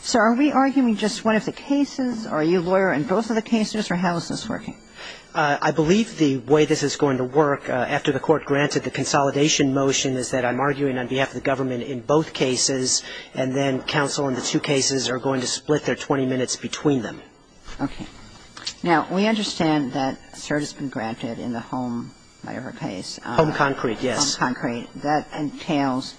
So, are we arguing just one of the cases, or are you a lawyer in both of the cases, or how is this working? I believe the way this is going to work, after the court granted the consolidation motion, is that I'm arguing on behalf of the government in both cases, and then counsel in the two cases are going to split their 20 minutes between them. Okay. Now, we understand that cert has been granted in the home, whatever case. Home concrete, yes. Home concrete, that entails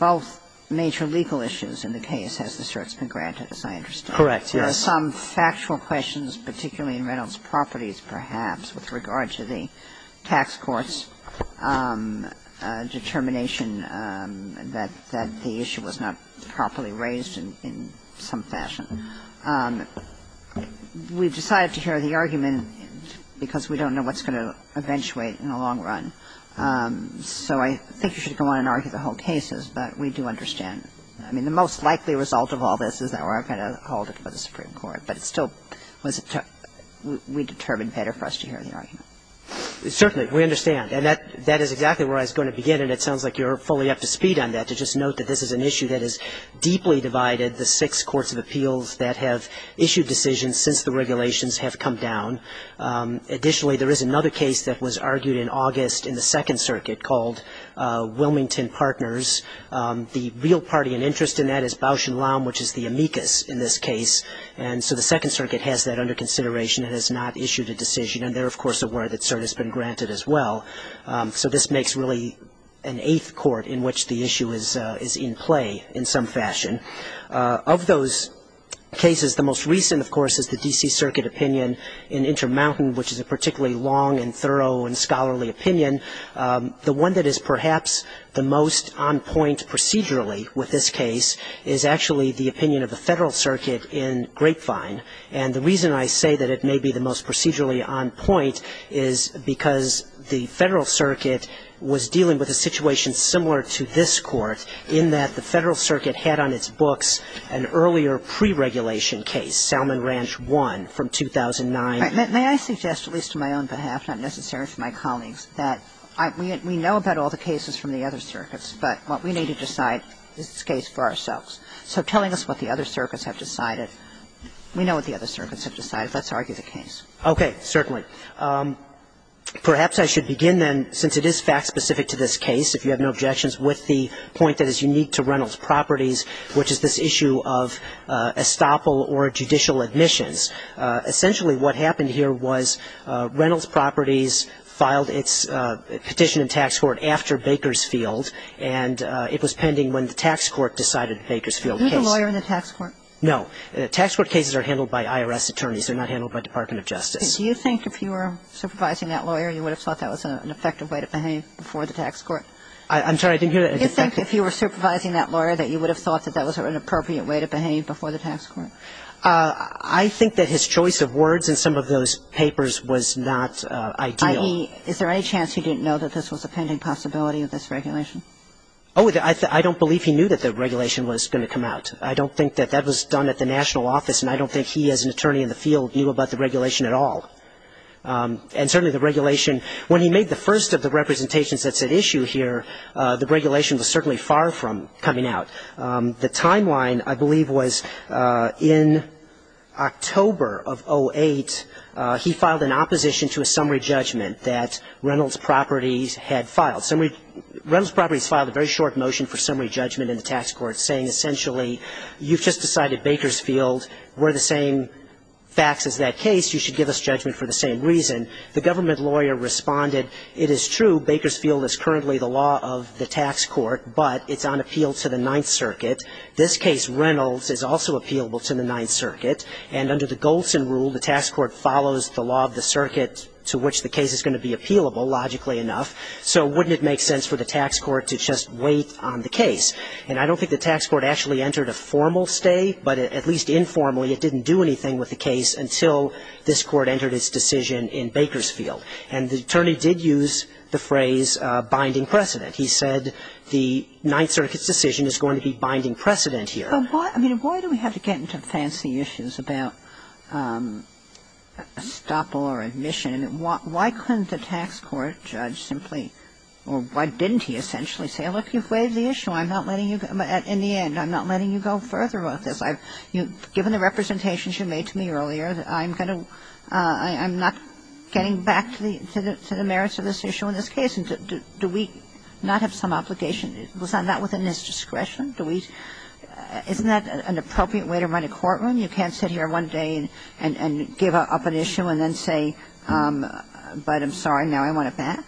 both major legal issues in the case, as the cert's been granted, as I understand. Correct, yes. There are some factual questions, particularly in Reynolds' properties, perhaps, with regard to the tax court's determination that the issue was not properly raised in some fashion. We've decided to hear the argument because we don't know what's going to eventuate in the long run. So I think you should go on and argue the whole cases, but we do understand. I mean, the most likely result of all this is that we're going to hold it for the Supreme Court. But it still was a tough – we determined better for us to hear the argument. Certainly. We understand. And that is exactly where I was going to begin, and it sounds like you're fully up to speed on that, to just note that this is an issue that has deeply divided the six courts of appeals that have issued decisions since the regulations have come down. Additionally, there is another case that was argued in August in the Second Circuit called Wilmington Partners. The real party and interest in that is Bausch & Lomb, which is the amicus in this case. And so the Second Circuit has that under consideration and has not issued a decision. And they're, of course, aware that cert has been granted as well. So this makes, really, an eighth court in which the issue is in play in some fashion. Of those cases, the most recent, of course, is the D.C. Circuit opinion in Intermountain, which is a particularly long and thorough and scholarly opinion. The one that is perhaps the most on point procedurally with this case is actually the opinion of the Federal Circuit in Grapevine. And the reason I say that it may be the most procedurally on point is because the Federal Circuit was dealing with a situation similar to this court in that the Federal Circuit had on its books an earlier pre-regulation case, Salmon Ranch 1 from 2009. May I suggest, at least on my own behalf, not necessarily for my colleagues, that we know about all the cases from the other circuits, but what we need to decide is the case for ourselves. So telling us what the other circuits have decided, we know what the other circuits have decided. Let's argue the case. Okay. Certainly. All right. Perhaps I should begin, then, since it is fact-specific to this case, if you have no objections, with the point that is unique to Reynolds Properties, which is this issue of estoppel or judicial admissions. Essentially what happened here was Reynolds Properties filed its petition in tax court after Bakersfield, and it was pending when the tax court decided Bakersfield case. Are you the lawyer in the tax court? No. Tax court cases are handled by IRS attorneys. They're not handled by Department of Justice. Do you think if you were supervising that lawyer you would have thought that was an effective way to behave before the tax court? I'm sorry. I didn't hear that. Do you think if you were supervising that lawyer that you would have thought that that was an appropriate way to behave before the tax court? I think that his choice of words in some of those papers was not ideal. I.e., is there any chance he didn't know that this was a pending possibility of this regulation? Oh, I don't believe he knew that the regulation was going to come out. I don't think that that was done at the national office, and I don't think he as an attorney in the field knew about the regulation at all. And certainly the regulation, when he made the first of the representations that said issue here, the regulation was certainly far from coming out. The timeline, I believe, was in October of 08, he filed an opposition to a summary judgment that Reynolds Properties had filed. Reynolds Properties filed a very short motion for summary judgment in the tax court, saying essentially you've just decided, Bakersfield, we're the same facts as that case, you should give us judgment for the same reason. The government lawyer responded, it is true, Bakersfield is currently the law of the tax court, but it's on appeal to the Ninth Circuit. This case, Reynolds, is also appealable to the Ninth Circuit, and under the Golson rule the tax court follows the law of the circuit to which the case is going to be appealable, logically enough. So wouldn't it make sense for the tax court to just wait on the case? And I don't think the tax court actually entered a formal stay, but at least informally it didn't do anything with the case until this Court entered its decision in Bakersfield. And the attorney did use the phrase binding precedent. He said the Ninth Circuit's decision is going to be binding precedent here. But why do we have to get into fancy issues about estoppel or admission? And why couldn't the tax court judge simply or why didn't he essentially say, look, you've waived the issue. I'm not letting you go. In the end, I'm not letting you go further about this. Given the representations you made to me earlier, I'm not getting back to the merits of this issue in this case. Do we not have some obligation? Was that not within his discretion? Isn't that an appropriate way to run a courtroom? You can't sit here one day and give up an issue and then say, but I'm sorry, now I want it back?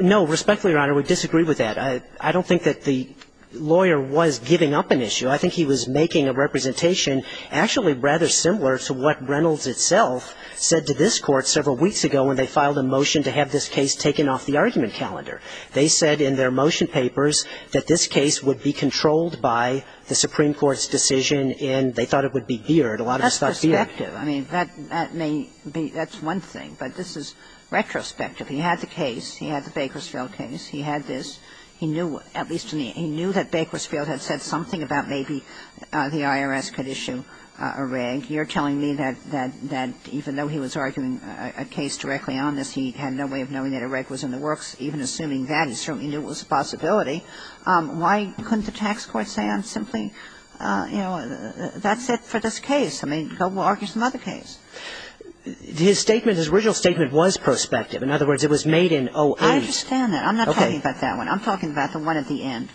Respectfully, Your Honor, we disagree with that. I don't think that the lawyer was giving up an issue. I think he was making a representation actually rather similar to what Reynolds itself said to this Court several weeks ago when they filed a motion to have this case taken off the argument calendar. They said in their motion papers that this case would be controlled by the Supreme Court's decision, and they thought it would be geared. A lot of us thought it was geared. That's perspective. I mean, that may be one thing, but this is retrospective. He had the case. He had the Bakersfield case. He had this. He knew, at least he knew that Bakersfield had said something about maybe the IRS could issue a reg. You're telling me that even though he was arguing a case directly on this, he had no way of knowing that a reg was in the works. Even assuming that, he certainly knew it was a possibility. Why couldn't the tax court say on simply, you know, that's it for this case? I mean, go argue some other case. His statement, his original statement was prospective. In other words, it was made in 08. I understand that. I'm not talking about that one. I'm talking about the one at the end.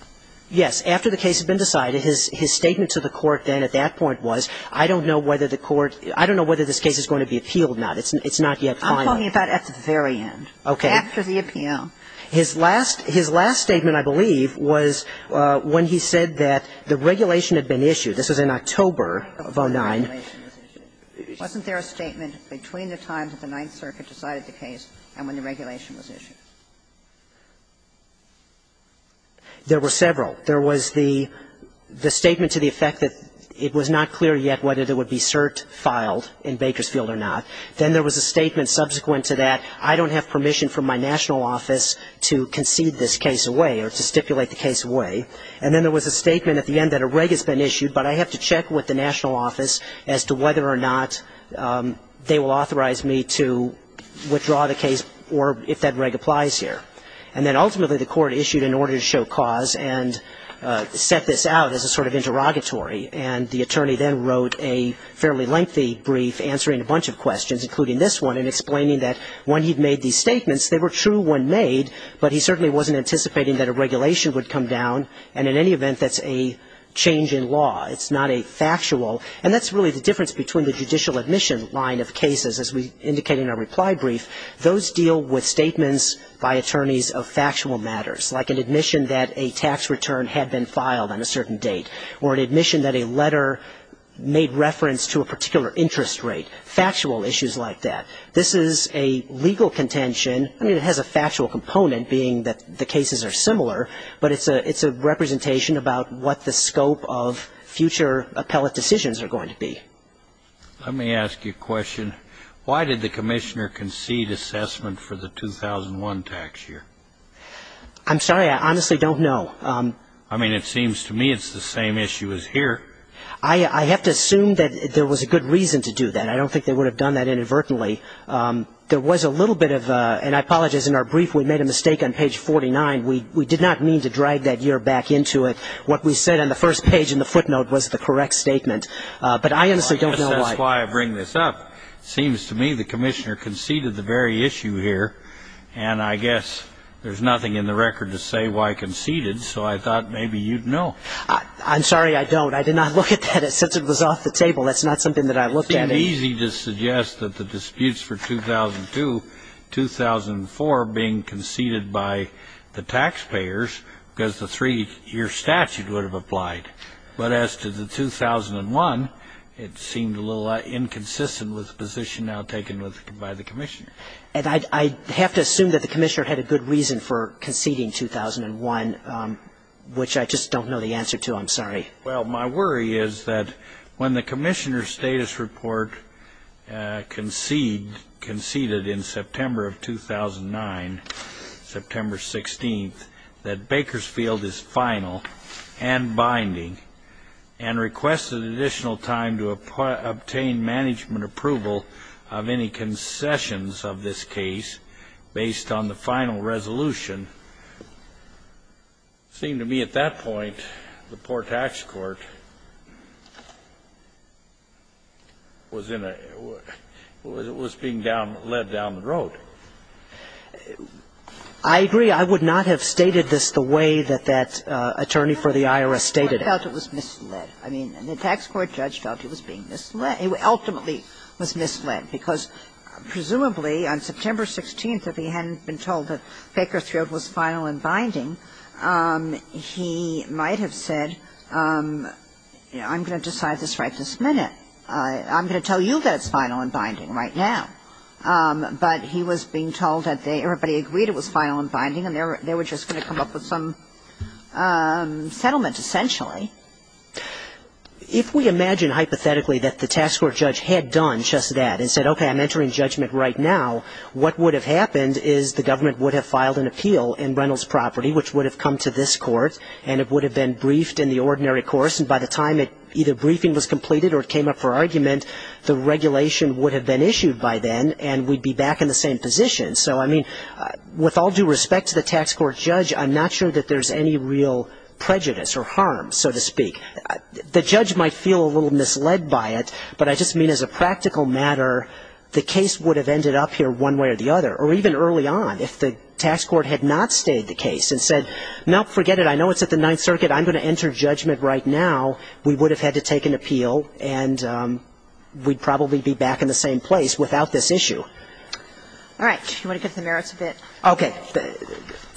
Yes. After the case had been decided, his statement to the Court then at that point was, I don't know whether the Court – I don't know whether this case is going to be appealed now. It's not yet final. I'm talking about at the very end. Okay. After the appeal. His last – his last statement, I believe, was when he said that the regulation had been issued. This was in October of 09. Wasn't there a statement between the time that the Ninth Circuit decided the case and when the regulation was issued? There were several. There was the statement to the effect that it was not clear yet whether there would be cert filed in Bakersfield or not. Then there was a statement subsequent to that. I don't have permission from my national office to concede this case away or to stipulate the case away. And then there was a statement at the end that a reg has been issued, but I have to check with the national office as to whether or not they will authorize me to withdraw the case or if that reg applies here. And then ultimately the Court issued an order to show cause and set this out as a sort of interrogatory. And the attorney then wrote a fairly lengthy brief answering a bunch of questions, including this one, and explaining that when he made these statements, they were true when made, but he certainly wasn't anticipating that a regulation would come down. And in any event, that's a change in law. It's not a factual. And that's really the difference between the judicial admission line of cases, as we indicated in our reply brief. Those deal with statements by attorneys of factual matters, like an admission that a tax return had been filed on a certain date or an admission that a letter made reference to a particular interest rate. Factual issues like that. This is a legal contention. I mean, it has a factual component, being that the cases are similar, but it's a representation about what the scope of future appellate decisions are going to be. Let me ask you a question. Why did the Commissioner concede assessment for the 2001 tax year? I'm sorry. I honestly don't know. I mean, it seems to me it's the same issue as here. I have to assume that there was a good reason to do that. I don't think they would have done that inadvertently. There was a little bit of a – and I apologize. In our brief, we made a mistake on page 49. We did not mean to drag that year back into it. What we said on the first page in the footnote was the correct statement. But I honestly don't know why. I guess that's why I bring this up. It seems to me the Commissioner conceded the very issue here, and I guess there's nothing in the record to say why conceded, so I thought maybe you'd know. I'm sorry. I don't. I did not look at that. Since it was off the table, that's not something that I looked at. It would have been easy to suggest that the disputes for 2002, 2004 being conceded by the taxpayers because the three-year statute would have applied. But as to the 2001, it seemed a little inconsistent with the position now taken by the Commissioner. And I have to assume that the Commissioner had a good reason for conceding 2001, which I just don't know the answer to. I'm sorry. Well, my worry is that when the Commissioner's status report conceded in September of 2009, September 16th, that Bakersfield is final and binding and requested additional time to obtain management approval of any concessions of this case based on the final resolution, it seemed to me at that point the poor tax court was in a – was being down – led down the road. I agree. I would not have stated this the way that that attorney for the IRS stated it. I felt it was misled. I mean, the tax court judge felt it was being misled. And ultimately, it was misled because presumably on September 16th, if he hadn't been told that Bakersfield was final and binding, he might have said, you know, I'm going to decide this right this minute. I'm going to tell you that it's final and binding right now. But he was being told that everybody agreed it was final and binding and they were just going to come up with some settlement, essentially. If we imagine hypothetically that the tax court judge had done just that and said, okay, I'm entering judgment right now, what would have happened is the government would have filed an appeal in Reynolds' property, which would have come to this court, and it would have been briefed in the ordinary course. And by the time either briefing was completed or it came up for argument, the regulation would have been issued by then and we'd be back in the same position. So, I mean, with all due respect to the tax court judge, I'm not sure that there's any real prejudice or harm, so to speak. The judge might feel a little misled by it, but I just mean as a practical matter, the case would have ended up here one way or the other. Or even early on, if the tax court had not stayed the case and said, no, forget it, I know it's at the Ninth Circuit, I'm going to enter judgment right now, we would have had to take an appeal and we'd probably be back in the same place without this issue. All right. Do you want to get to the merits of it? Okay.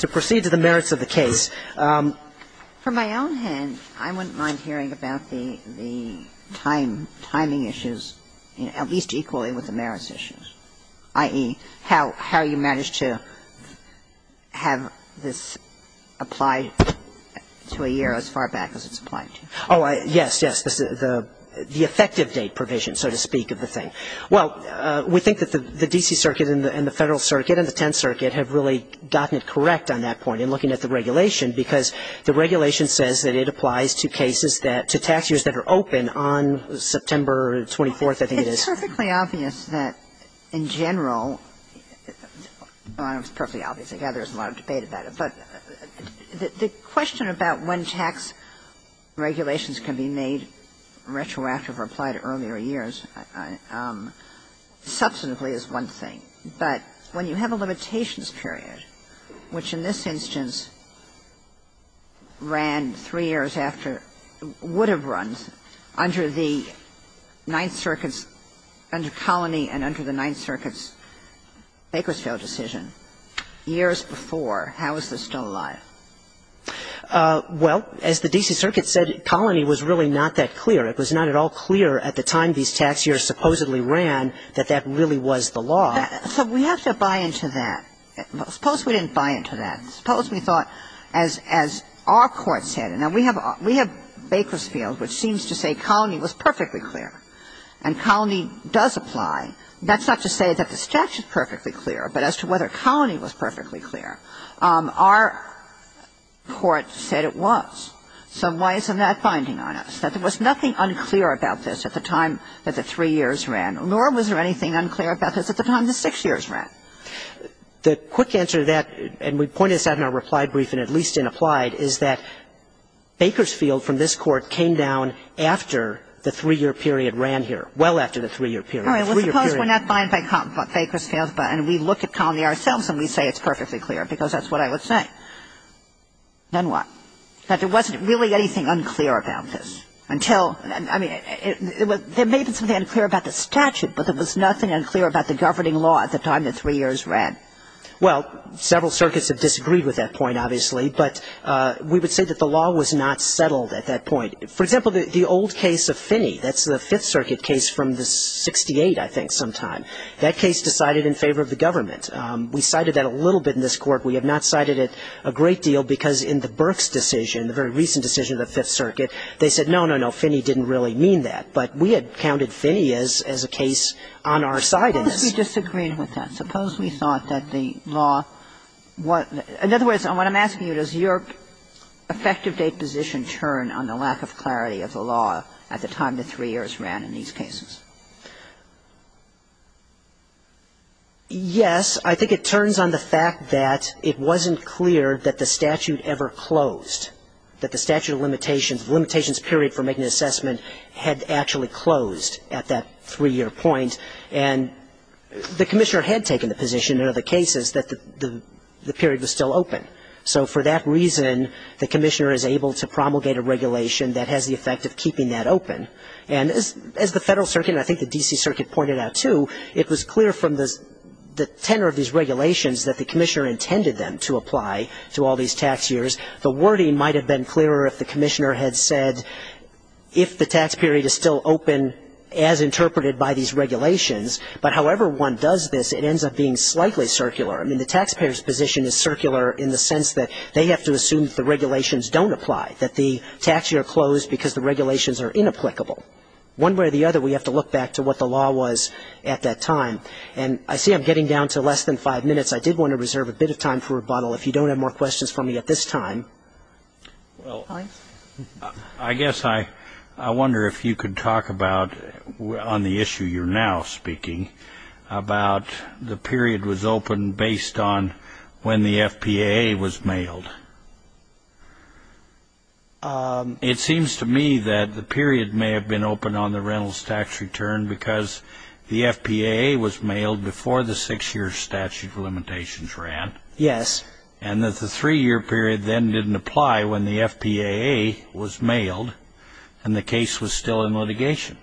To proceed to the merits of the case. From my own hand, I wouldn't mind hearing about the timing issues, at least equally with the merits issues, i.e., how you managed to have this apply to a year as far back as it's applied to. Oh, yes, yes. The effective date provision, so to speak, of the thing. Well, we think that the D.C. Circuit and the Federal Circuit and the Tenth Circuit have really gotten it correct on that point in looking at the regulation, because the regulation says that it applies to cases that, to tax years that are open on September 24th, I think it is. It's perfectly obvious that in general, well, it's perfectly obvious. I gather there's a lot of debate about it. But the question about when tax regulations can be made retroactive or apply to earlier years substantively is one thing. But when you have a limitations period, which in this instance ran three years after or would have run under the Ninth Circuit's, under Colony and under the Ninth Circuit's Bakersfield decision years before, how is this still alive? Well, as the D.C. Circuit said, Colony was really not that clear. It was not at all clear at the time these tax years supposedly ran that that really was the law. So we have to buy into that. Suppose we didn't buy into that. Suppose we thought, as our Court said, and we have Bakersfield, which seems to say Colony was perfectly clear, and Colony does apply. That's not to say that the statute is perfectly clear, but as to whether Colony was perfectly clear, our Court said it was. So why isn't that binding on us? That there was nothing unclear about this at the time that the three years ran, nor was there anything unclear about this at the time the six years ran. The quick answer to that, and we pointed this out in our reply brief and at least in applied, is that Bakersfield from this Court came down after the three-year period ran here, well after the three-year period. All right. Well, suppose we're not bind by Bakersfield, and we look at Colony ourselves and we say it's perfectly clear, because that's what I would say. Then what? That there wasn't really anything unclear about this until – I mean, there may have been something unclear about the statute, but there was nothing unclear about the governing law at the time the three years ran. Well, several circuits have disagreed with that point, obviously, but we would say that the law was not settled at that point. For example, the old case of Finney, that's the Fifth Circuit case from the 68, I think, sometime. That case decided in favor of the government. We cited that a little bit in this Court. We have not cited it a great deal because in the Burks decision, the very recent decision of the Fifth Circuit, they said, no, no, no, Finney didn't really mean that, but we had counted Finney as a case on our side in this. Suppose we disagreed with that. Suppose we thought that the law – in other words, what I'm asking you, does your effective date position turn on the lack of clarity of the law at the time the three years ran in these cases? Yes. I think it turns on the fact that it wasn't clear that the statute ever closed, that the statute of limitations, the limitations period for making an assessment had actually closed at that three-year point, and the Commissioner had taken the position in other cases that the period was still open. So for that reason, the Commissioner is able to promulgate a regulation that has the effect of keeping that open. And as the Federal Circuit, and I think the D.C. Circuit pointed out, too, it was clear from the tenor of these regulations that the Commissioner intended them to apply to all these tax years. The wording might have been clearer if the Commissioner had said, if the tax period is still open as interpreted by these regulations, but however one does this, it ends up being slightly circular. I mean, the taxpayer's position is circular in the sense that they have to assume that the regulations don't apply, that the tax year closed because the regulations are not applicable. One way or the other, we have to look back to what the law was at that time. And I see I'm getting down to less than five minutes. I did want to reserve a bit of time for rebuttal. If you don't have more questions for me at this time. Well, I guess I wonder if you could talk about on the issue you're now speaking about the period was open based on when the FPAA was mailed. It seems to me that the period may have been open on the rentals tax return because the FPAA was mailed before the six-year statute of limitations ran. Yes. And that the three-year period then didn't apply when the FPAA was mailed and the case was still in litigation.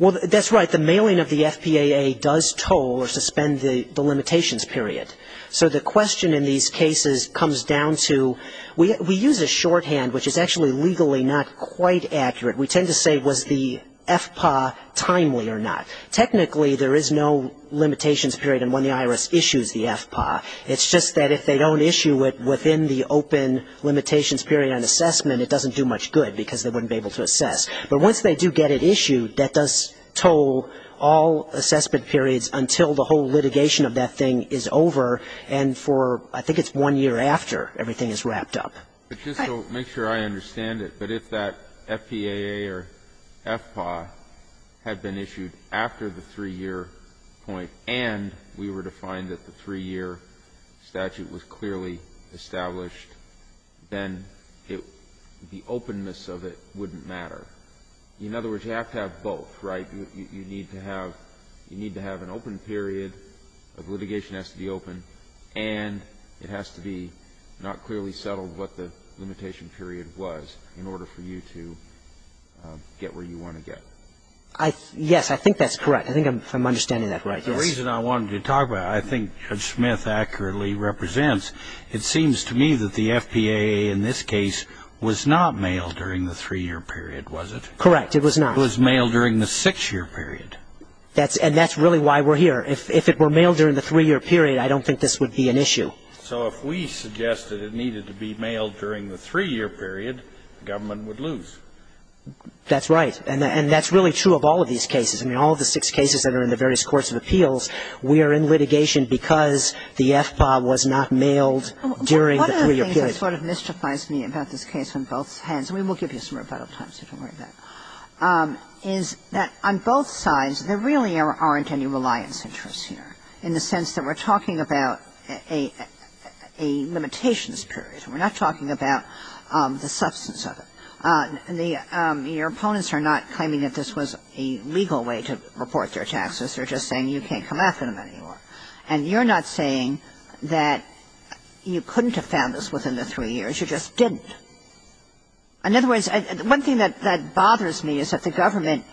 Well, that's right. The mailing of the FPAA does toll or suspend the limitations period. So the question in these cases comes down to we use a shorthand, which is actually legally not quite accurate. We tend to say was the FPAA timely or not. Technically, there is no limitations period on when the IRS issues the FPAA. It's just that if they don't issue it within the open limitations period on assessment, it doesn't do much good because they wouldn't be able to assess. But once they do get it issued, that does toll all assessment periods until the whole litigation of that thing is over. And for, I think it's one year after, everything is wrapped up. But just to make sure I understand it, but if that FPAA or FPAA had been issued after the three-year point and we were to find that the three-year statute was clearly established, then the openness of it wouldn't matter. In other words, you have to have both, right? You need to have an open period. The litigation has to be open. And it has to be not clearly settled what the limitation period was in order for you to get where you want to get. Yes, I think that's correct. I think I'm understanding that right. The reason I wanted to talk about it, I think Judge Smith accurately represents, it seems to me that the FPAA in this case was not mailed during the three-year period, was it? Correct. It was not. It was not mailed during the six-year period. And that's really why we're here. If it were mailed during the three-year period, I don't think this would be an issue. So if we suggested it needed to be mailed during the three-year period, the government would lose. That's right. And that's really true of all of these cases. I mean, all of the six cases that are in the various courts of appeals, we are in litigation because the FPAA was not mailed during the three-year period. I think the thing that sort of mystifies me about this case on both hands, and we will give you some rebuttal time, so don't worry about it, is that on both sides there really aren't any reliance interests here in the sense that we're talking about a limitations period. We're not talking about the substance of it. Your opponents are not claiming that this was a legal way to report their taxes. They're just saying you can't come after them anymore. And you're not saying that you couldn't have found this within the three years. You just didn't. In other words, one thing that bothers me is that the government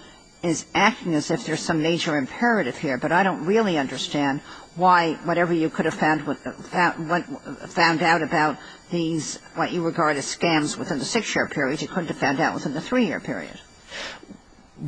is acting as if there's some major imperative here, but I don't really understand why whatever you could have found out about these, what you regard as scams within the six-year period, you couldn't have found out within the three-year period.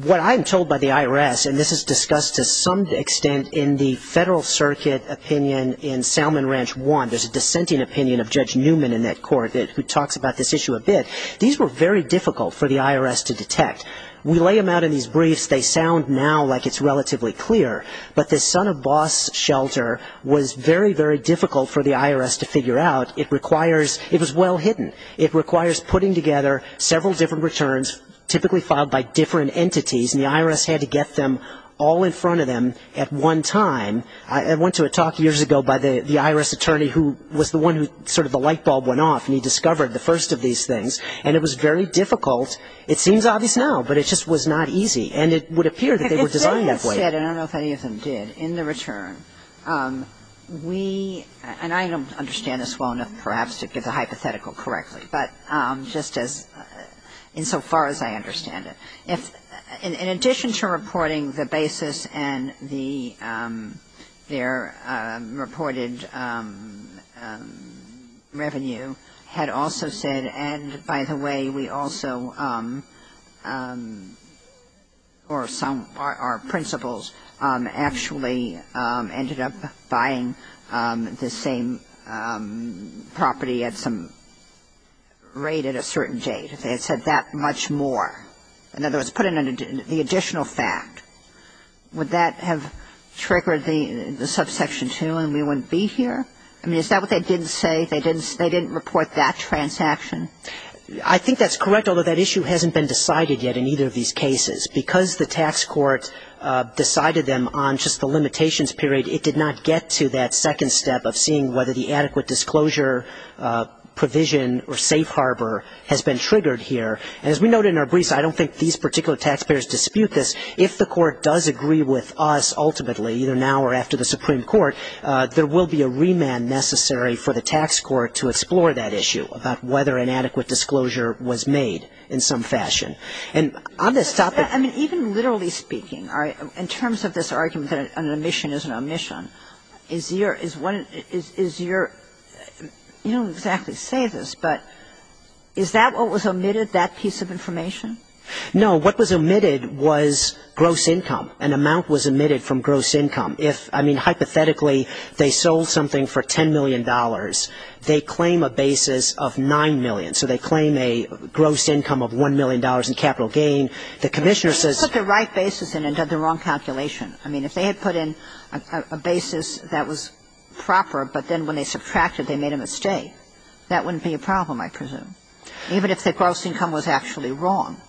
What I'm told by the IRS, and this is discussed to some extent in the Federal Circuit opinion in Salmon Ranch 1. There's a dissenting opinion of Judge Newman in that court who talks about this issue a bit. These were very difficult for the IRS to detect. We lay them out in these briefs. They sound now like it's relatively clear, but the Son of Boss shelter was very, very difficult for the IRS to figure out. It requires, it was well hidden. It requires putting together several different returns, typically filed by different entities, and the IRS had to get them all in front of them at one time. I went to a talk years ago by the IRS attorney who was the one who sort of the light bulb went off, and he discovered the first of these things. And it was very difficult. It seems obvious now, but it just was not easy. And it would appear that they were designed that way. If they had said, and I don't know if any of them did, in the return, we, and I don't understand this well enough perhaps to give the hypothetical correctly, but just as, insofar as I understand it. If, in addition to reporting the basis and the, their reported revenue, had also said, and by the way, we also, or some, our principals actually ended up buying the same property at some rate at a certain date, if they had said that much more. In other words, put in the additional fact. Would that have triggered the subsection 2 and we wouldn't be here? I mean, is that what they didn't say? They didn't report that transaction? I think that's correct, although that issue hasn't been decided yet in either of these cases. Because the tax court decided them on just the limitations period, it did not get to that second step of seeing whether the adequate disclosure provision or safe harbor has been triggered here. And as we noted in our briefs, I don't think these particular taxpayers dispute this. If the court does agree with us ultimately, either now or after the Supreme Court, there will be a remand necessary for the tax court to explore that issue about whether an adequate disclosure was made in some fashion. And on this topic. I mean, even literally speaking, in terms of this argument that an omission is an omission, is your – is one – is your – you don't exactly say this, but is that what was omitted, that piece of information? No. What was omitted was gross income. An amount was omitted from gross income. If – I mean, hypothetically, they sold something for $10 million. They claim a basis of $9 million. So they claim a gross income of $1 million in capital gain. The Commissioner says – But they put the right basis in and did the wrong calculation. I mean, if they had put in a basis that was proper, but then when they subtracted they made a mistake, that wouldn't be a problem, I presume, even if the gross income was actually wrong.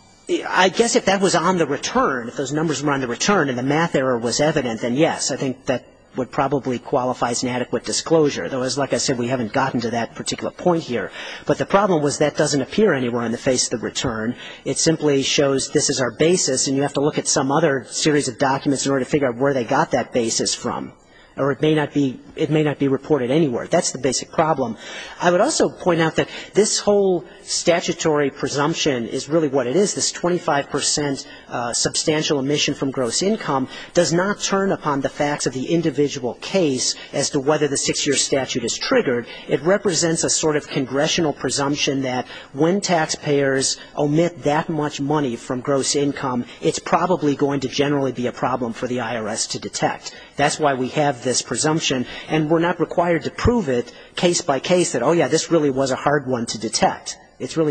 I guess if that was on the return, if those numbers were on the return and the math error was evident, then yes, I think that would probably qualify as an adequate disclosure. Otherwise, like I said, we haven't gotten to that particular point here. But the problem was that doesn't appear anywhere on the face of the return. It simply shows this is our basis and you have to look at some other series of documents in order to figure out where they got that basis from. Or it may not be – it may not be reported anywhere. That's the basic problem. I would also point out that this whole statutory presumption is really what it is. This 25 percent substantial omission from gross income does not turn upon the facts of the individual case as to whether the six-year statute is triggered. It represents a sort of congressional presumption that when taxpayers omit that much money from gross income, it's probably going to generally be a problem for the IRS to detect. That's why we have this presumption. And we're not required to prove it case by case that, oh, yeah, this really was a hard one to detect. All right. Thank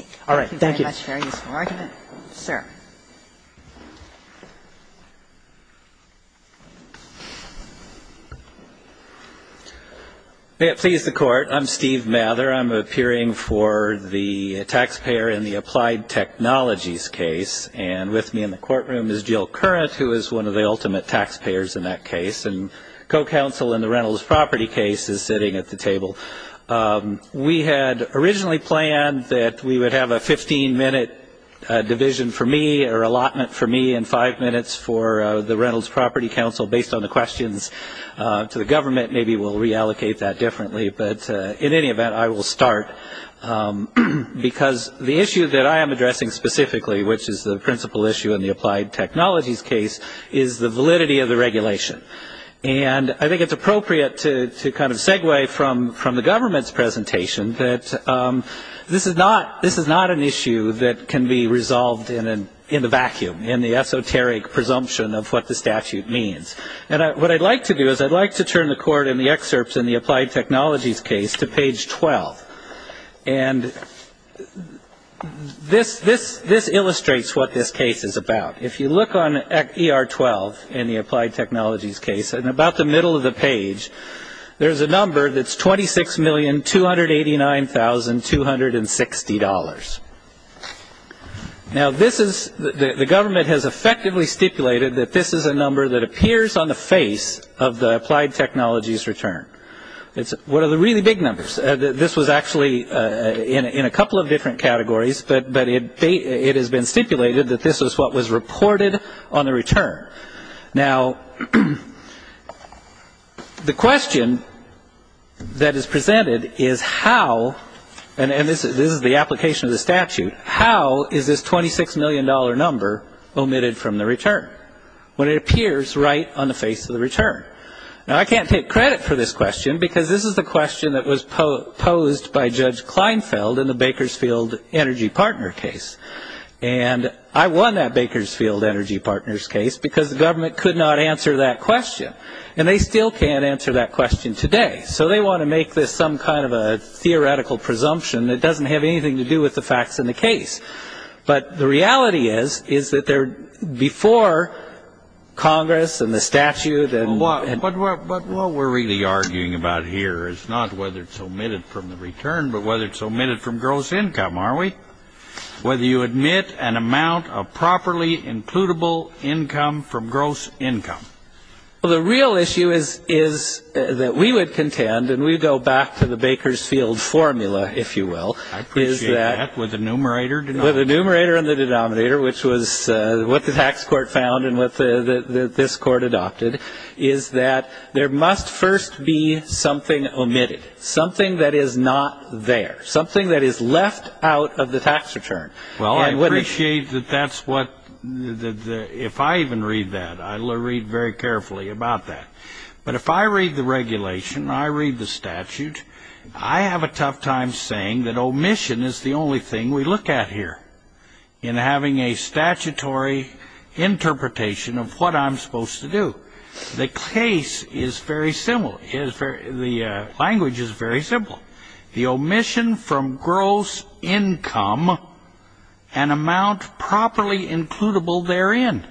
you. Thank you very much for your argument. Sir. May it please the Court. I'm Steve Mather. I'm appearing for the taxpayer in the applied technologies case. And with me in the courtroom is Jill Currant, who is one of the ultimate taxpayers in that case. And co-counsel in the Reynolds property case is sitting at the table. We had originally planned that we would have a 15-minute division for me or allotment for me and five minutes for the Reynolds property counsel based on the questions to the government. Maybe we'll reallocate that differently. But in any event, I will start because the issue that I am addressing specifically, which is the principal issue in the applied technologies case, is the validity of the regulation. And I think it's appropriate to kind of segue from the government's presentation that this is not an issue that can be resolved in the vacuum, in the esoteric presumption of what the statute means. And what I'd like to do is I'd like to turn the Court in the excerpts in the applied technologies case to page 12. And this illustrates what this case is about. If you look on ER-12 in the applied technologies case, in about the middle of the page, there's a number that's $26,289,260. Now, the government has effectively stipulated that this is a number that appears on the face of the applied technologies return. It's one of the really big numbers. This was actually in a couple of different categories, but it has been stipulated that this is what was reported on the return. Now, the question that is presented is how, and this is the application of the statute, how is this $26 million number omitted from the return when it appears right on the face of the return? Now, I can't take credit for this question because this is the question that was posed by Judge Kleinfeld in the Bakersfield Energy Partner case. And I won that Bakersfield Energy Partners case because the government could not answer that question. And they still can't answer that question today. So they want to make this some kind of a theoretical presumption that doesn't have anything to do with the facts in the case. But the reality is, is that they're before Congress and the statute. But what we're really arguing about here is not whether it's omitted from the return, but whether it's omitted from gross income, aren't we? Whether you admit an amount of properly includable income from gross income. Well, the real issue is that we would contend, and we go back to the Bakersfield formula, if you will. I appreciate that. With the numerator and the denominator. With the numerator and the denominator, which was what the tax court found and what this court adopted, is that there must first be something omitted, something that is not there, something that is left out of the tax return. Well, I appreciate that that's what, if I even read that, I'll read very carefully about that. But if I read the regulation, I read the statute, I have a tough time saying that omission is the only thing we look at here in having a statutory interpretation of what I'm supposed to do. The case is very simple. The language is very simple. The omission from gross income, an amount properly includable therein.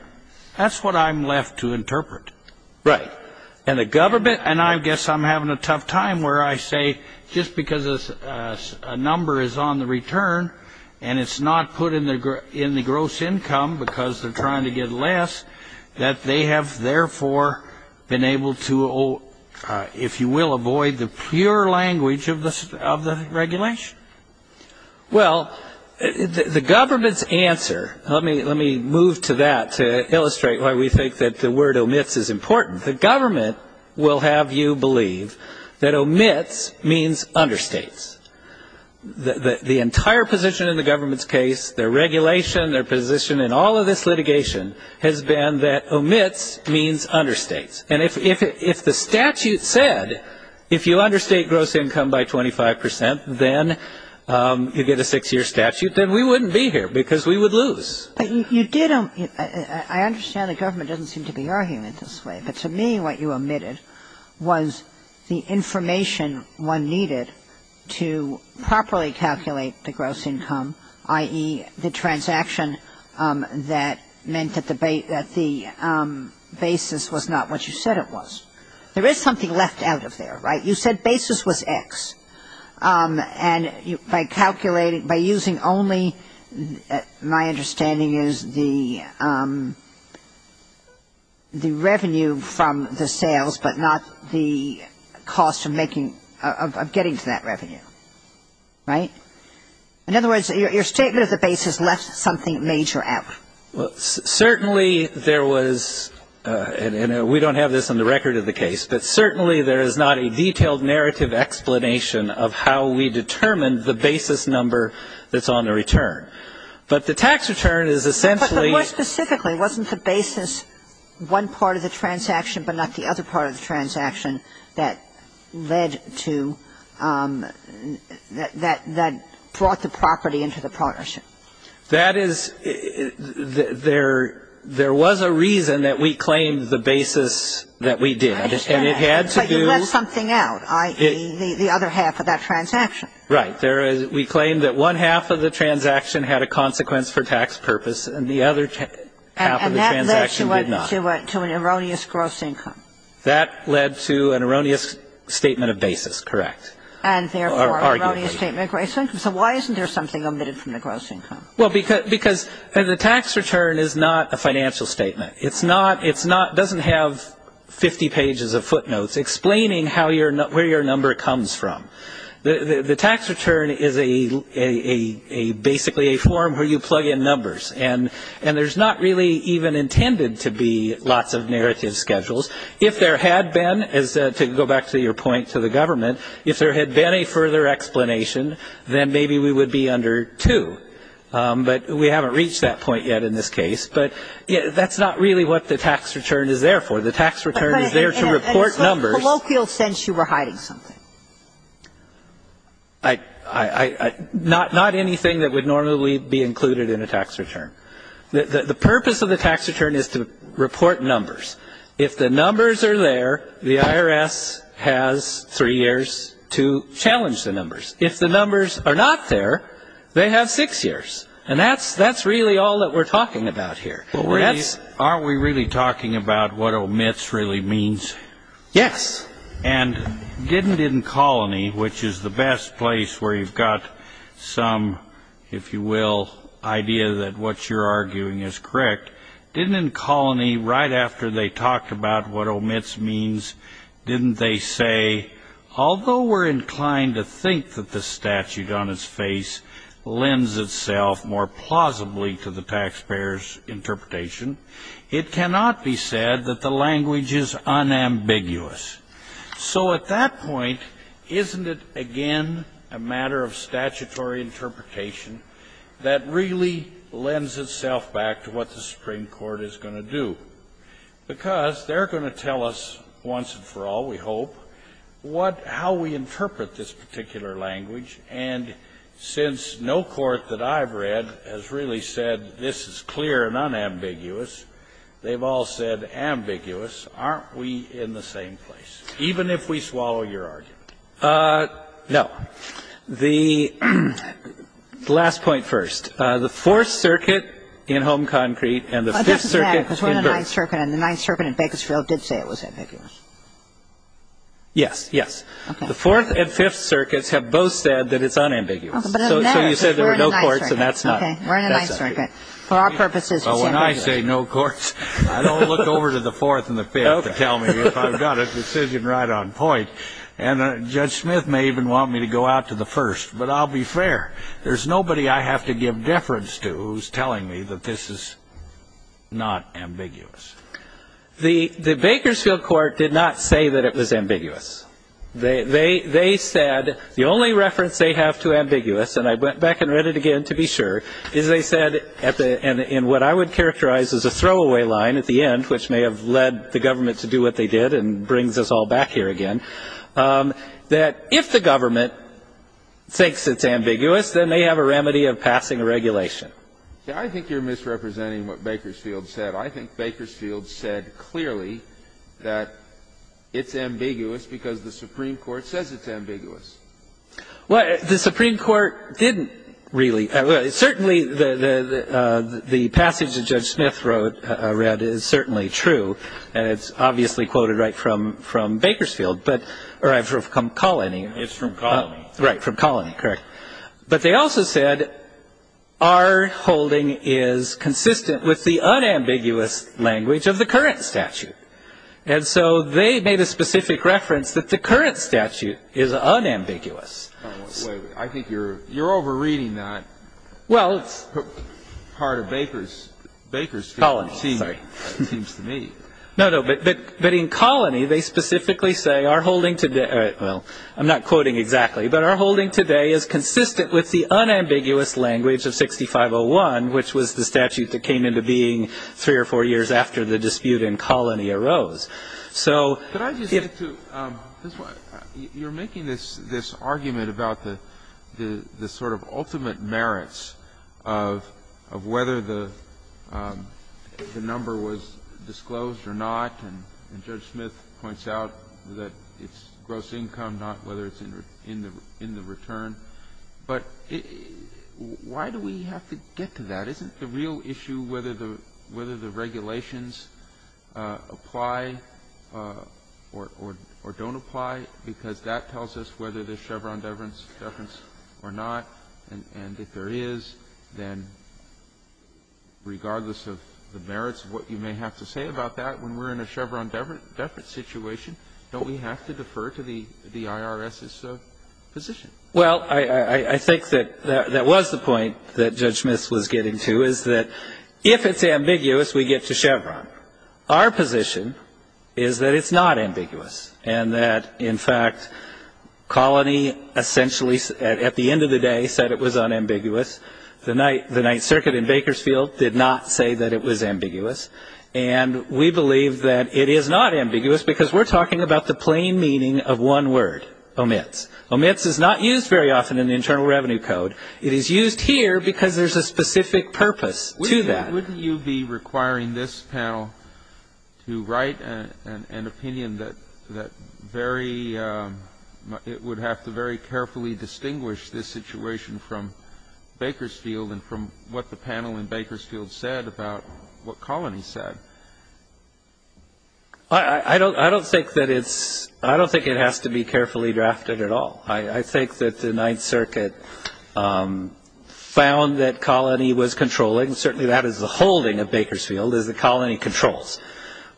That's what I'm left to interpret. Right. And the government, and I guess I'm having a tough time where I say just because a number is on the return and it's not put in the gross income because they're trying to get less, that they have therefore been able to, if you will, avoid the pure language of the regulation. Well, the government's answer, let me move to that to illustrate why we think that the word omits is important. The government will have you believe that omits means understates. The entire position in the government's case, their regulation, their position in all of this litigation has been that omits means understates. And if the statute said, if you understate gross income by 25 percent, then you get a six-year statute, then we wouldn't be here because we would lose. But you did, I understand the government doesn't seem to be arguing it this way, but to me what you omitted was the information one needed to properly calculate the gross income, i.e., the transaction that meant that the basis was not what you said it was. There is something left out of there, right? You said basis was X. And by calculating, by using only, my understanding is the revenue from the sales, but not the cost of making, of getting to that revenue, right? In other words, your statement of the basis left something major out. Well, certainly there was, and we don't have this on the record of the case, but certainly there is not a detailed narrative explanation of how we determined the basis number that's on the return. But the tax return is essentially But more specifically, wasn't the basis one part of the transaction but not the other part of the transaction that led to, that brought the property into the partnership? That is, there was a reason that we claimed the basis that we did. I understand. And it had to do But you left something out, i.e., the other half of that transaction. Right. We claimed that one half of the transaction had a consequence for tax purpose and the other half of the transaction did not. That led to an erroneous gross income. That led to an erroneous statement of basis. Correct. And, therefore, an erroneous statement of gross income. So why isn't there something omitted from the gross income? Well, because the tax return is not a financial statement. It doesn't have 50 pages of footnotes explaining where your number comes from. The tax return is basically a form where you plug in numbers, and there's not really even intended to be lots of narrative schedules. If there had been, to go back to your point to the government, if there had been a further explanation, then maybe we would be under 2. But we haven't reached that point yet in this case. But that's not really what the tax return is there for. The tax return is there to report numbers. But in a sort of colloquial sense, you were hiding something. Not anything that would normally be included in a tax return. The purpose of the tax return is to report numbers. If the numbers are there, the IRS has three years to challenge the numbers. If the numbers are not there, they have six years. And that's really all that we're talking about here. Are we really talking about what omits really means? Yes. And didn't in Colony, which is the best place where you've got some, if you will, idea that what you're arguing is correct, didn't in Colony, right after they talked about what omits means, didn't they say, although we're inclined to think that the statute on its face lends itself more plausibly to the taxpayer's interpretation, it cannot be said that the language is unambiguous. So at that point, isn't it again a matter of statutory interpretation that really lends itself back to what the Supreme Court is going to do? Because they're going to tell us once and for all, we hope, what how we interpret this particular language. And since no court that I've read has really said this is clear and unambiguous, they've all said ambiguous. Aren't we in the same place? Even if we swallow your argument. No. The last point first. The Fourth Circuit in Home Concrete and the Fifth Circuit in Berks. And the Ninth Circuit in Bakersfield did say it was ambiguous. Yes. Yes. The Fourth and Fifth Circuits have both said that it's unambiguous. So you said there were no courts, and that's not. Okay. We're in the Ninth Circuit. For our purposes, it's ambiguous. When I say no courts, I don't look over to the Fourth and the Fifth to tell me if I've got a decision right on point. And Judge Smith may even want me to go out to the First. But I'll be fair. There's nobody I have to give deference to who's telling me that this is not ambiguous. The Bakersfield Court did not say that it was ambiguous. They said the only reference they have to ambiguous, and I went back and read it again to be sure, is they said in what I would characterize as a throwaway line at the end, which may have led the government to do what they did and brings us all back here again, that if the government thinks it's ambiguous, then they have a remedy of passing a regulation. I think you're misrepresenting what Bakersfield said. I think Bakersfield said clearly that it's ambiguous because the Supreme Court says it's ambiguous. Well, the Supreme Court didn't really. Certainly, the passage that Judge Smith wrote, read, is certainly true. And it's obviously quoted right from Bakersfield, but or from Colony. It's from Colony. Right, from Colony. Correct. But they also said our holding is consistent with the unambiguous language of the current statute. And so they made a specific reference that the current statute is unambiguous. I think you're over-reading that part of Bakersfield, it seems to me. No, no, but in Colony, they specifically say our holding today, well, I'm not quoting exactly, but our holding today is consistent with the unambiguous language of 6501, which was the statute that came into being three or four years after the dispute in Colony arose. So if you're making this argument about the sort of ultimate merits of whether the number was disclosed or not, and Judge Smith points out that it's gross income, not whether it's in the return. But why do we have to get to that? Isn't the real issue whether the regulations apply or don't apply? Because that tells us whether there's Chevron deference or not. And if there is, then regardless of the merits of what you may have to say about that, when we're in a Chevron deference situation, don't we have to defer to the IRS's position? Well, I think that that was the point that Judge Smith was getting to, is that if it's ambiguous, we get to Chevron. Our position is that it's not ambiguous and that, in fact, Colony essentially at the end of the day said it was unambiguous. The Ninth Circuit in Bakersfield did not say that it was ambiguous. And we believe that it is not ambiguous because we're talking about the plain meaning of one word, omits. Omits is not used very often in the Internal Revenue Code. It is used here because there's a specific purpose to that. Wouldn't you be requiring this panel to write an opinion that very ñ it would have to very carefully distinguish this situation from Bakersfield and from what the panel in Bakersfield said about what Colony said? I don't think that it's ñ I don't think it has to be carefully drafted at all. I think that the Ninth Circuit found that Colony was controlling. Certainly that is the holding of Bakersfield, is that Colony controls.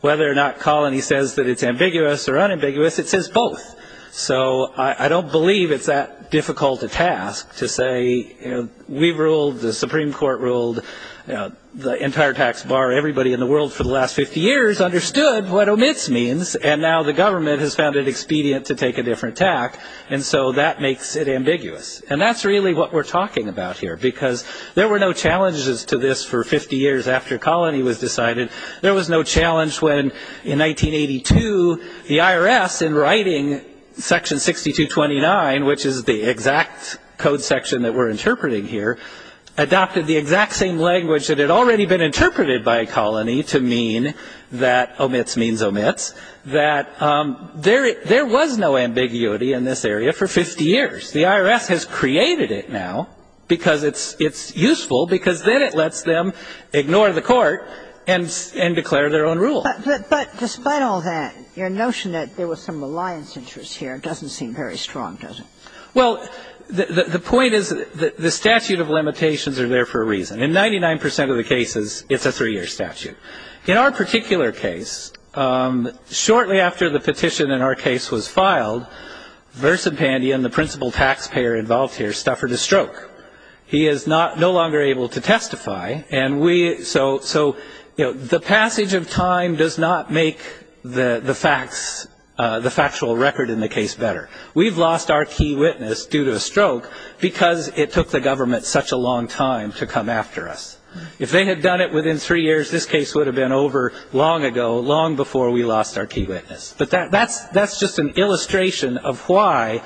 Whether or not Colony says that it's ambiguous or unambiguous, it says both. So I don't believe it's that difficult a task to say, you know, we ruled, the Supreme Court ruled, the entire tax bar, everybody in the world for the last 50 years understood what omits means. And now the government has found it expedient to take a different tack. And so that makes it ambiguous. And that's really what we're talking about here because there were no challenges to this for 50 years after Colony was decided. There was no challenge when, in 1982, the IRS, in writing Section 6229, which is the exact same language that had already been interpreted by Colony to mean that omits means omits, that there was no ambiguity in this area for 50 years. The IRS has created it now because it's useful, because then it lets them ignore the Court and declare their own rule. But despite all that, your notion that there was some reliance interest here doesn't seem very strong, does it? Well, the point is that the statute of limitations are there for a reason. In 99 percent of the cases, it's a three-year statute. In our particular case, shortly after the petition in our case was filed, Versa Pandian, the principal taxpayer involved here, suffered a stroke. He is no longer able to testify. So the passage of time does not make the facts, the factual record in the case better. We've lost our key witness due to a stroke because it took the government such a long time to come after us. If they had done it within three years, this case would have been over long ago, long before we lost our key witness. But that's just an illustration of why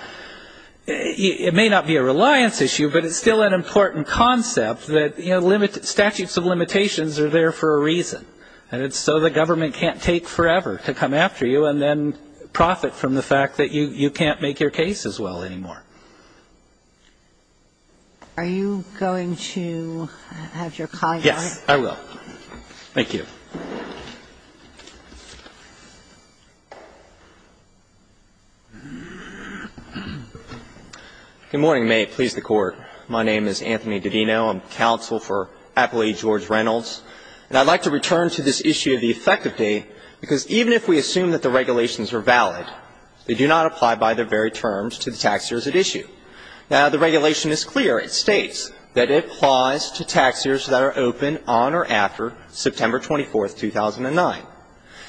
it may not be a reliance issue, but it's still an important concept that, you know, statutes of limitations are there for a reason. And it's so the government can't take forever to come after you and then profit from the fact that you can't make your case as well anymore. Are you going to have your call now? Yes, I will. Thank you. Good morning. May it please the Court. My name is Anthony Didino. I'm counsel for Appellee George Reynolds. And I'd like to return to this issue of the effective date, because even if we assume that the regulations are valid, they do not apply by their very terms to the tax years at issue. Now, the regulation is clear. It states that it applies to tax years that are open on or after September 24, 2009.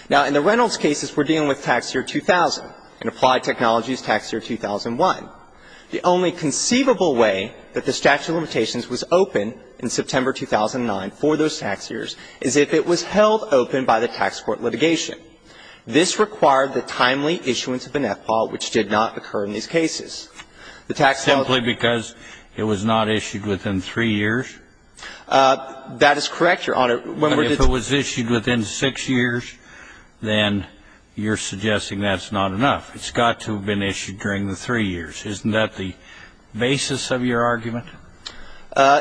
Now, in the Reynolds cases, we're dealing with tax year 2000. In applied technologies, tax year 2001. The only conceivable way that the statute of limitations was open in September 2009 for those tax years is if it was held open by the tax court litigation. This required the timely issuance of an F ball, which did not occur in these cases. The tax law ---- Simply because it was not issued within three years? That is correct, Your Honor. I mean, if it was issued within six years, then you're suggesting that's not enough. It's got to have been issued during the three years. Isn't that the basis of your argument?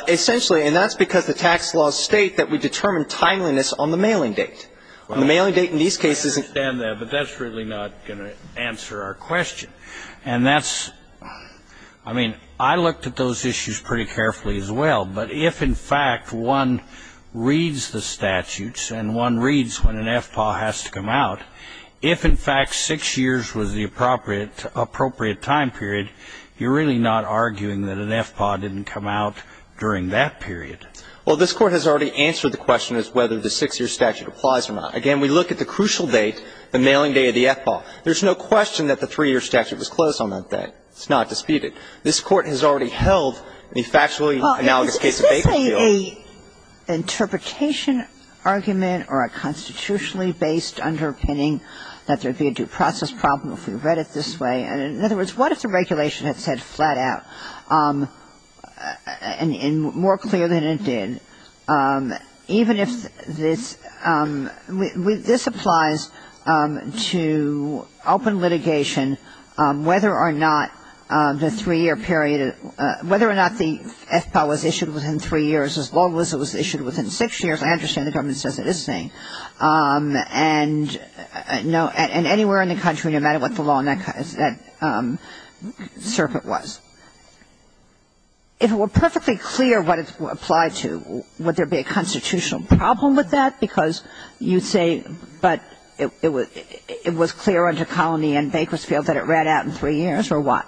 Essentially, and that's because the tax laws state that we determine timeliness on the mailing date. On the mailing date in these cases ---- I understand that, but that's really not going to answer our question. And that's ---- I mean, I looked at those issues pretty carefully as well. But if, in fact, one reads the statutes and one reads when an F ball has to come out, if, in fact, six years was the appropriate time period, you're really not arguing that an F ball didn't come out during that period. Well, this Court has already answered the question as whether the six-year statute applies or not. Again, we look at the crucial date, the mailing date of the F ball. There's no question that the three-year statute was closed on that date. It's not disputed. This Court has already held the factually analogous case of Bakersfield. Well, is this a interpretation argument or a constitutionally based underpinning that there would be a due process problem if we read it this way? In other words, what if the regulation had said flat out and more clear than it did, even if this ---- this applies to open litigation whether or not the three-year period ---- whether or not the F ball was issued within three years as long as it was issued within six years. I understand the government says it is saying. And, you know, and anywhere in the country, no matter what the law in that circuit was, if it were perfectly clear what it applied to, would there be a constitutional problem with that because you'd say, but it was clear under Colony and Bakersfield that it ran out in three years, or what?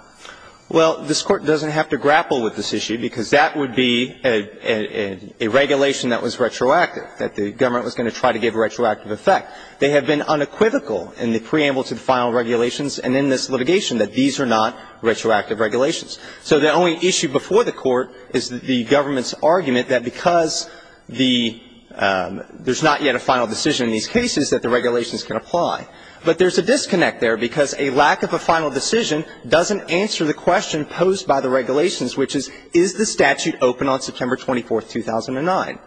Well, this Court doesn't have to grapple with this issue because that would be a regulation that was retroactive, that the government was going to try to give a retroactive effect. They have been unequivocal in the preamble to the final regulations and in this litigation that these are not retroactive regulations. So the only issue before the Court is the government's argument that because the ---- there's not yet a final decision in these cases that the regulations can apply. But there's a disconnect there because a lack of a final decision doesn't answer the question posed by the regulations, which is, is the statute open on September 24, 2009?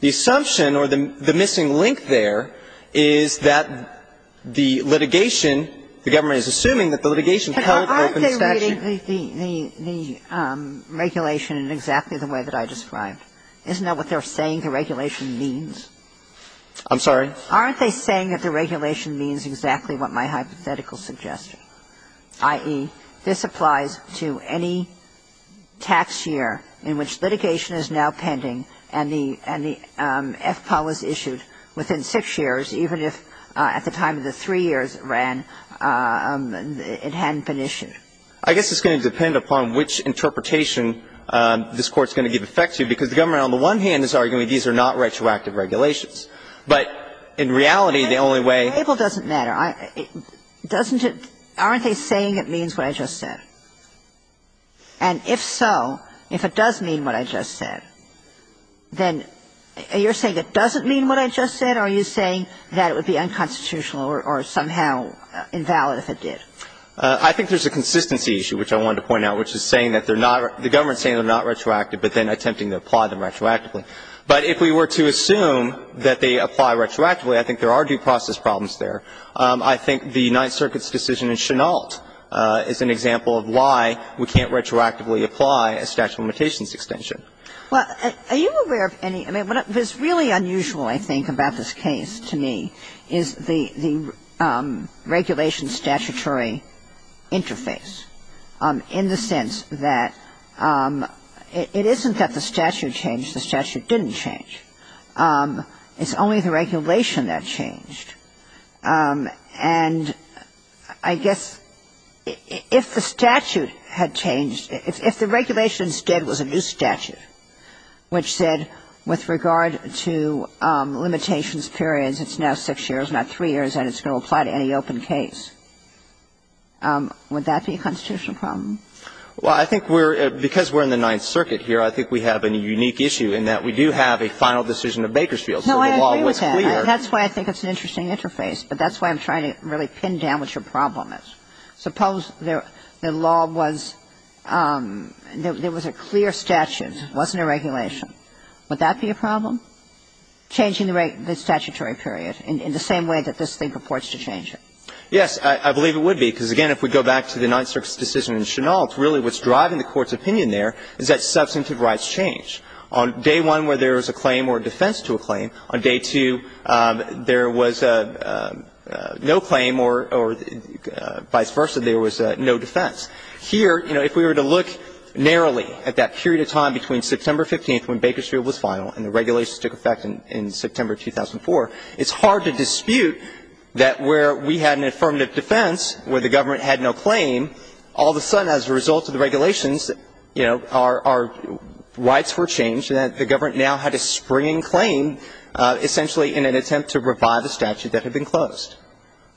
The assumption or the missing link there is that the litigation, the government is assuming that the litigation held open the statute. But aren't they reading the regulation in exactly the way that I described? Isn't that what they're saying the regulation means? I'm sorry? Aren't they saying that the regulation means exactly what my hypothetical suggested, i.e., this applies to any tax year in which litigation is now pending and the FPAW was issued within 6 years, even if at the time of the 3 years it ran, it hadn't been issued? I guess it's going to depend upon which interpretation this Court's going to give effect to, because the government on the one hand is arguing these are not retroactive regulations. But in reality, the only way ---- The preamble doesn't matter. Doesn't it ---- aren't they saying it means what I just said? And if so, if it does mean what I just said, then you're saying it doesn't mean what I just said, or are you saying that it would be unconstitutional or somehow invalid if it did? I think there's a consistency issue, which I wanted to point out, which is saying that they're not ---- the government is saying they're not retroactive, but then attempting to apply them retroactively. But if we were to assume that they apply retroactively, I think there are due process problems there. I think the Ninth Circuit's decision in Chennault is an example of why we can't retroactively apply a statute of limitations extension. Well, are you aware of any ---- I mean, what is really unusual, I think, about this case to me is the regulation statutory interface in the sense that it isn't that the statute changed, the statute didn't change. It's only the regulation that changed. And I guess if the statute had changed, if the regulation instead was a new statute which said with regard to limitations periods, it's now six years, not three years, and it's going to apply to any open case, would that be a constitutional problem? Well, I think we're ---- because we're in the Ninth Circuit here, I think we have a unique issue in that we do have a final decision of Bakersfield. So the law was clear. That's why I think it's an interesting interface. But that's why I'm trying to really pin down what your problem is. Suppose the law was ---- there was a clear statute, it wasn't a regulation. Would that be a problem, changing the statutory period in the same way that this thing purports to change it? Yes, I believe it would be, because, again, if we go back to the Ninth Circuit's decision in Chennault, really what's driving the Court's opinion there is that substantive rights change. On day one where there is a claim or defense to a claim, on day two there was no claim or vice versa, there was no defense. Here, you know, if we were to look narrowly at that period of time between September 15th when Bakersfield was final and the regulations took effect in September 2004, it's hard to dispute that where we had an affirmative defense where the government had no claim, all of a sudden as a result of the regulations, you know, our rights were changed and the government now had a springing claim essentially in an attempt to revive a statute that had been closed.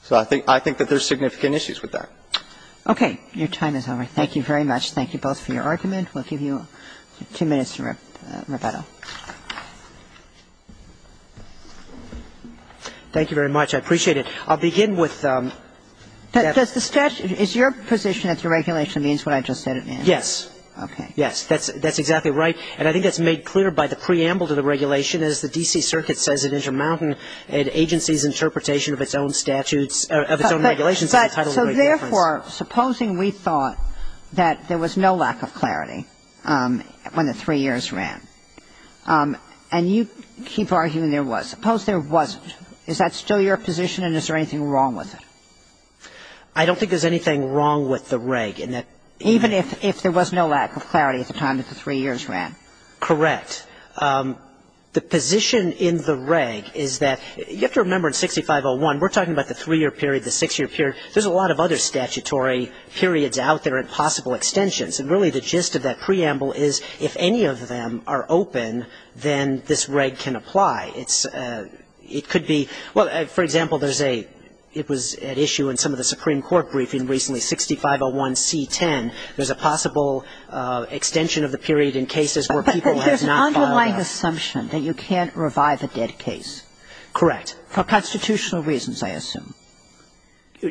So I think that there's significant issues with that. Okay. Your time is over. Thank you very much. Thank you both for your argument. We'll give you two minutes to rebuttal. Thank you very much. I appreciate it. I'll begin with the statute. Is your position that the regulation means what I just said it means? Okay. That's exactly right. And I think that's made clear by the preamble to the regulation as the D.C. Circuit says it intermountained an agency's interpretation of its own statutes or of its own regulations. So therefore, supposing we thought that there was no lack of clarity when the three years ran, and you keep arguing there was, suppose there wasn't, is that still your position and is there anything wrong with it? I don't think there's anything wrong with the reg. Even if there was no lack of clarity at the time that the three years ran? Correct. The position in the reg is that you have to remember in 6501, we're talking about the three-year period, the six-year period. There's a lot of other statutory periods out there and possible extensions. And really the gist of that preamble is if any of them are open, then this reg can apply. It could be, well, for example, there's a, it was at issue in some of the Supreme Court cases. There's a possible extension of the period in cases where people have not filed out. But there's an underlying assumption that you can't revive a dead case. Correct. For constitutional reasons, I assume.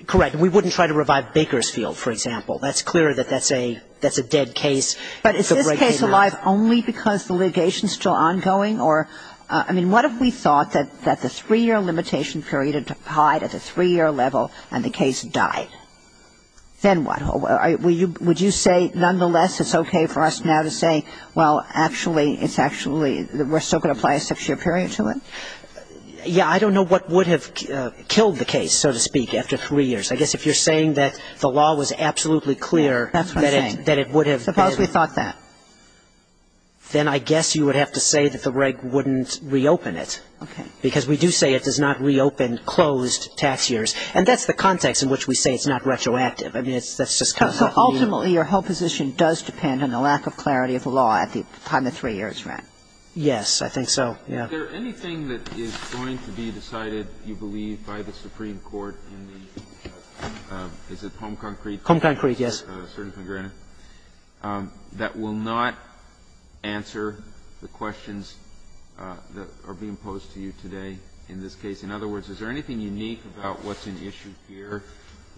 Correct. And we wouldn't try to revive Bakersfield, for example. That's clear that that's a dead case. But is this case alive only because the litigation is still ongoing or, I mean, what if we thought that the three-year limitation period applied at the three-year level and the case died? Then what? Would you say nonetheless it's okay for us now to say, well, actually, it's actually, we're still going to apply a six-year period to it? Yeah. I don't know what would have killed the case, so to speak, after three years. I guess if you're saying that the law was absolutely clear that it would have been. That's what I'm saying. Suppose we thought that. Then I guess you would have to say that the reg wouldn't reopen it. Okay. Because we do say it does not reopen closed tax years. And that's the context in which we say it's not retroactive. I mean, that's just kind of what we mean. So ultimately your whole position does depend on the lack of clarity of the law at the time of three years, right? Yes, I think so. Yeah. Is there anything that is going to be decided, you believe, by the Supreme Court in the, is it home concrete? Home concrete, yes. That will not answer the questions that are being posed to you today in this case? In other words, is there anything unique about what's in issue here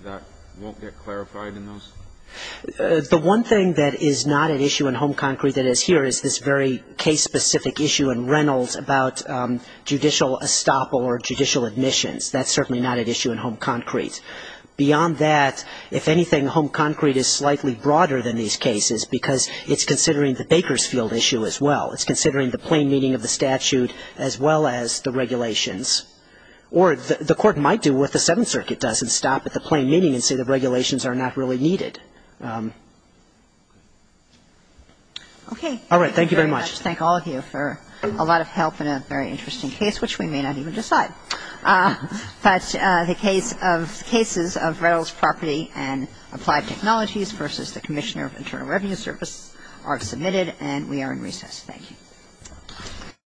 that won't get clarified in those? The one thing that is not at issue in home concrete that is here is this very case-specific issue in Reynolds about judicial estoppel or judicial admissions. That's certainly not at issue in home concrete. Beyond that, if anything, home concrete is slightly broader than these cases because it's considering the Bakersfield issue as well. It's considering the plain meaning of the statute as well as the regulations. Or the Court might do what the Seventh Circuit does and stop at the plain meaning and say the regulations are not really needed. Okay. All right. Thank you very much. Thank all of you for a lot of help in a very interesting case, which we may not even decide. But the case of cases of Reynolds Property and Applied Technologies versus the Commissioner of Internal Revenue Service are submitted, and we are in recess. Thank you. Thank you.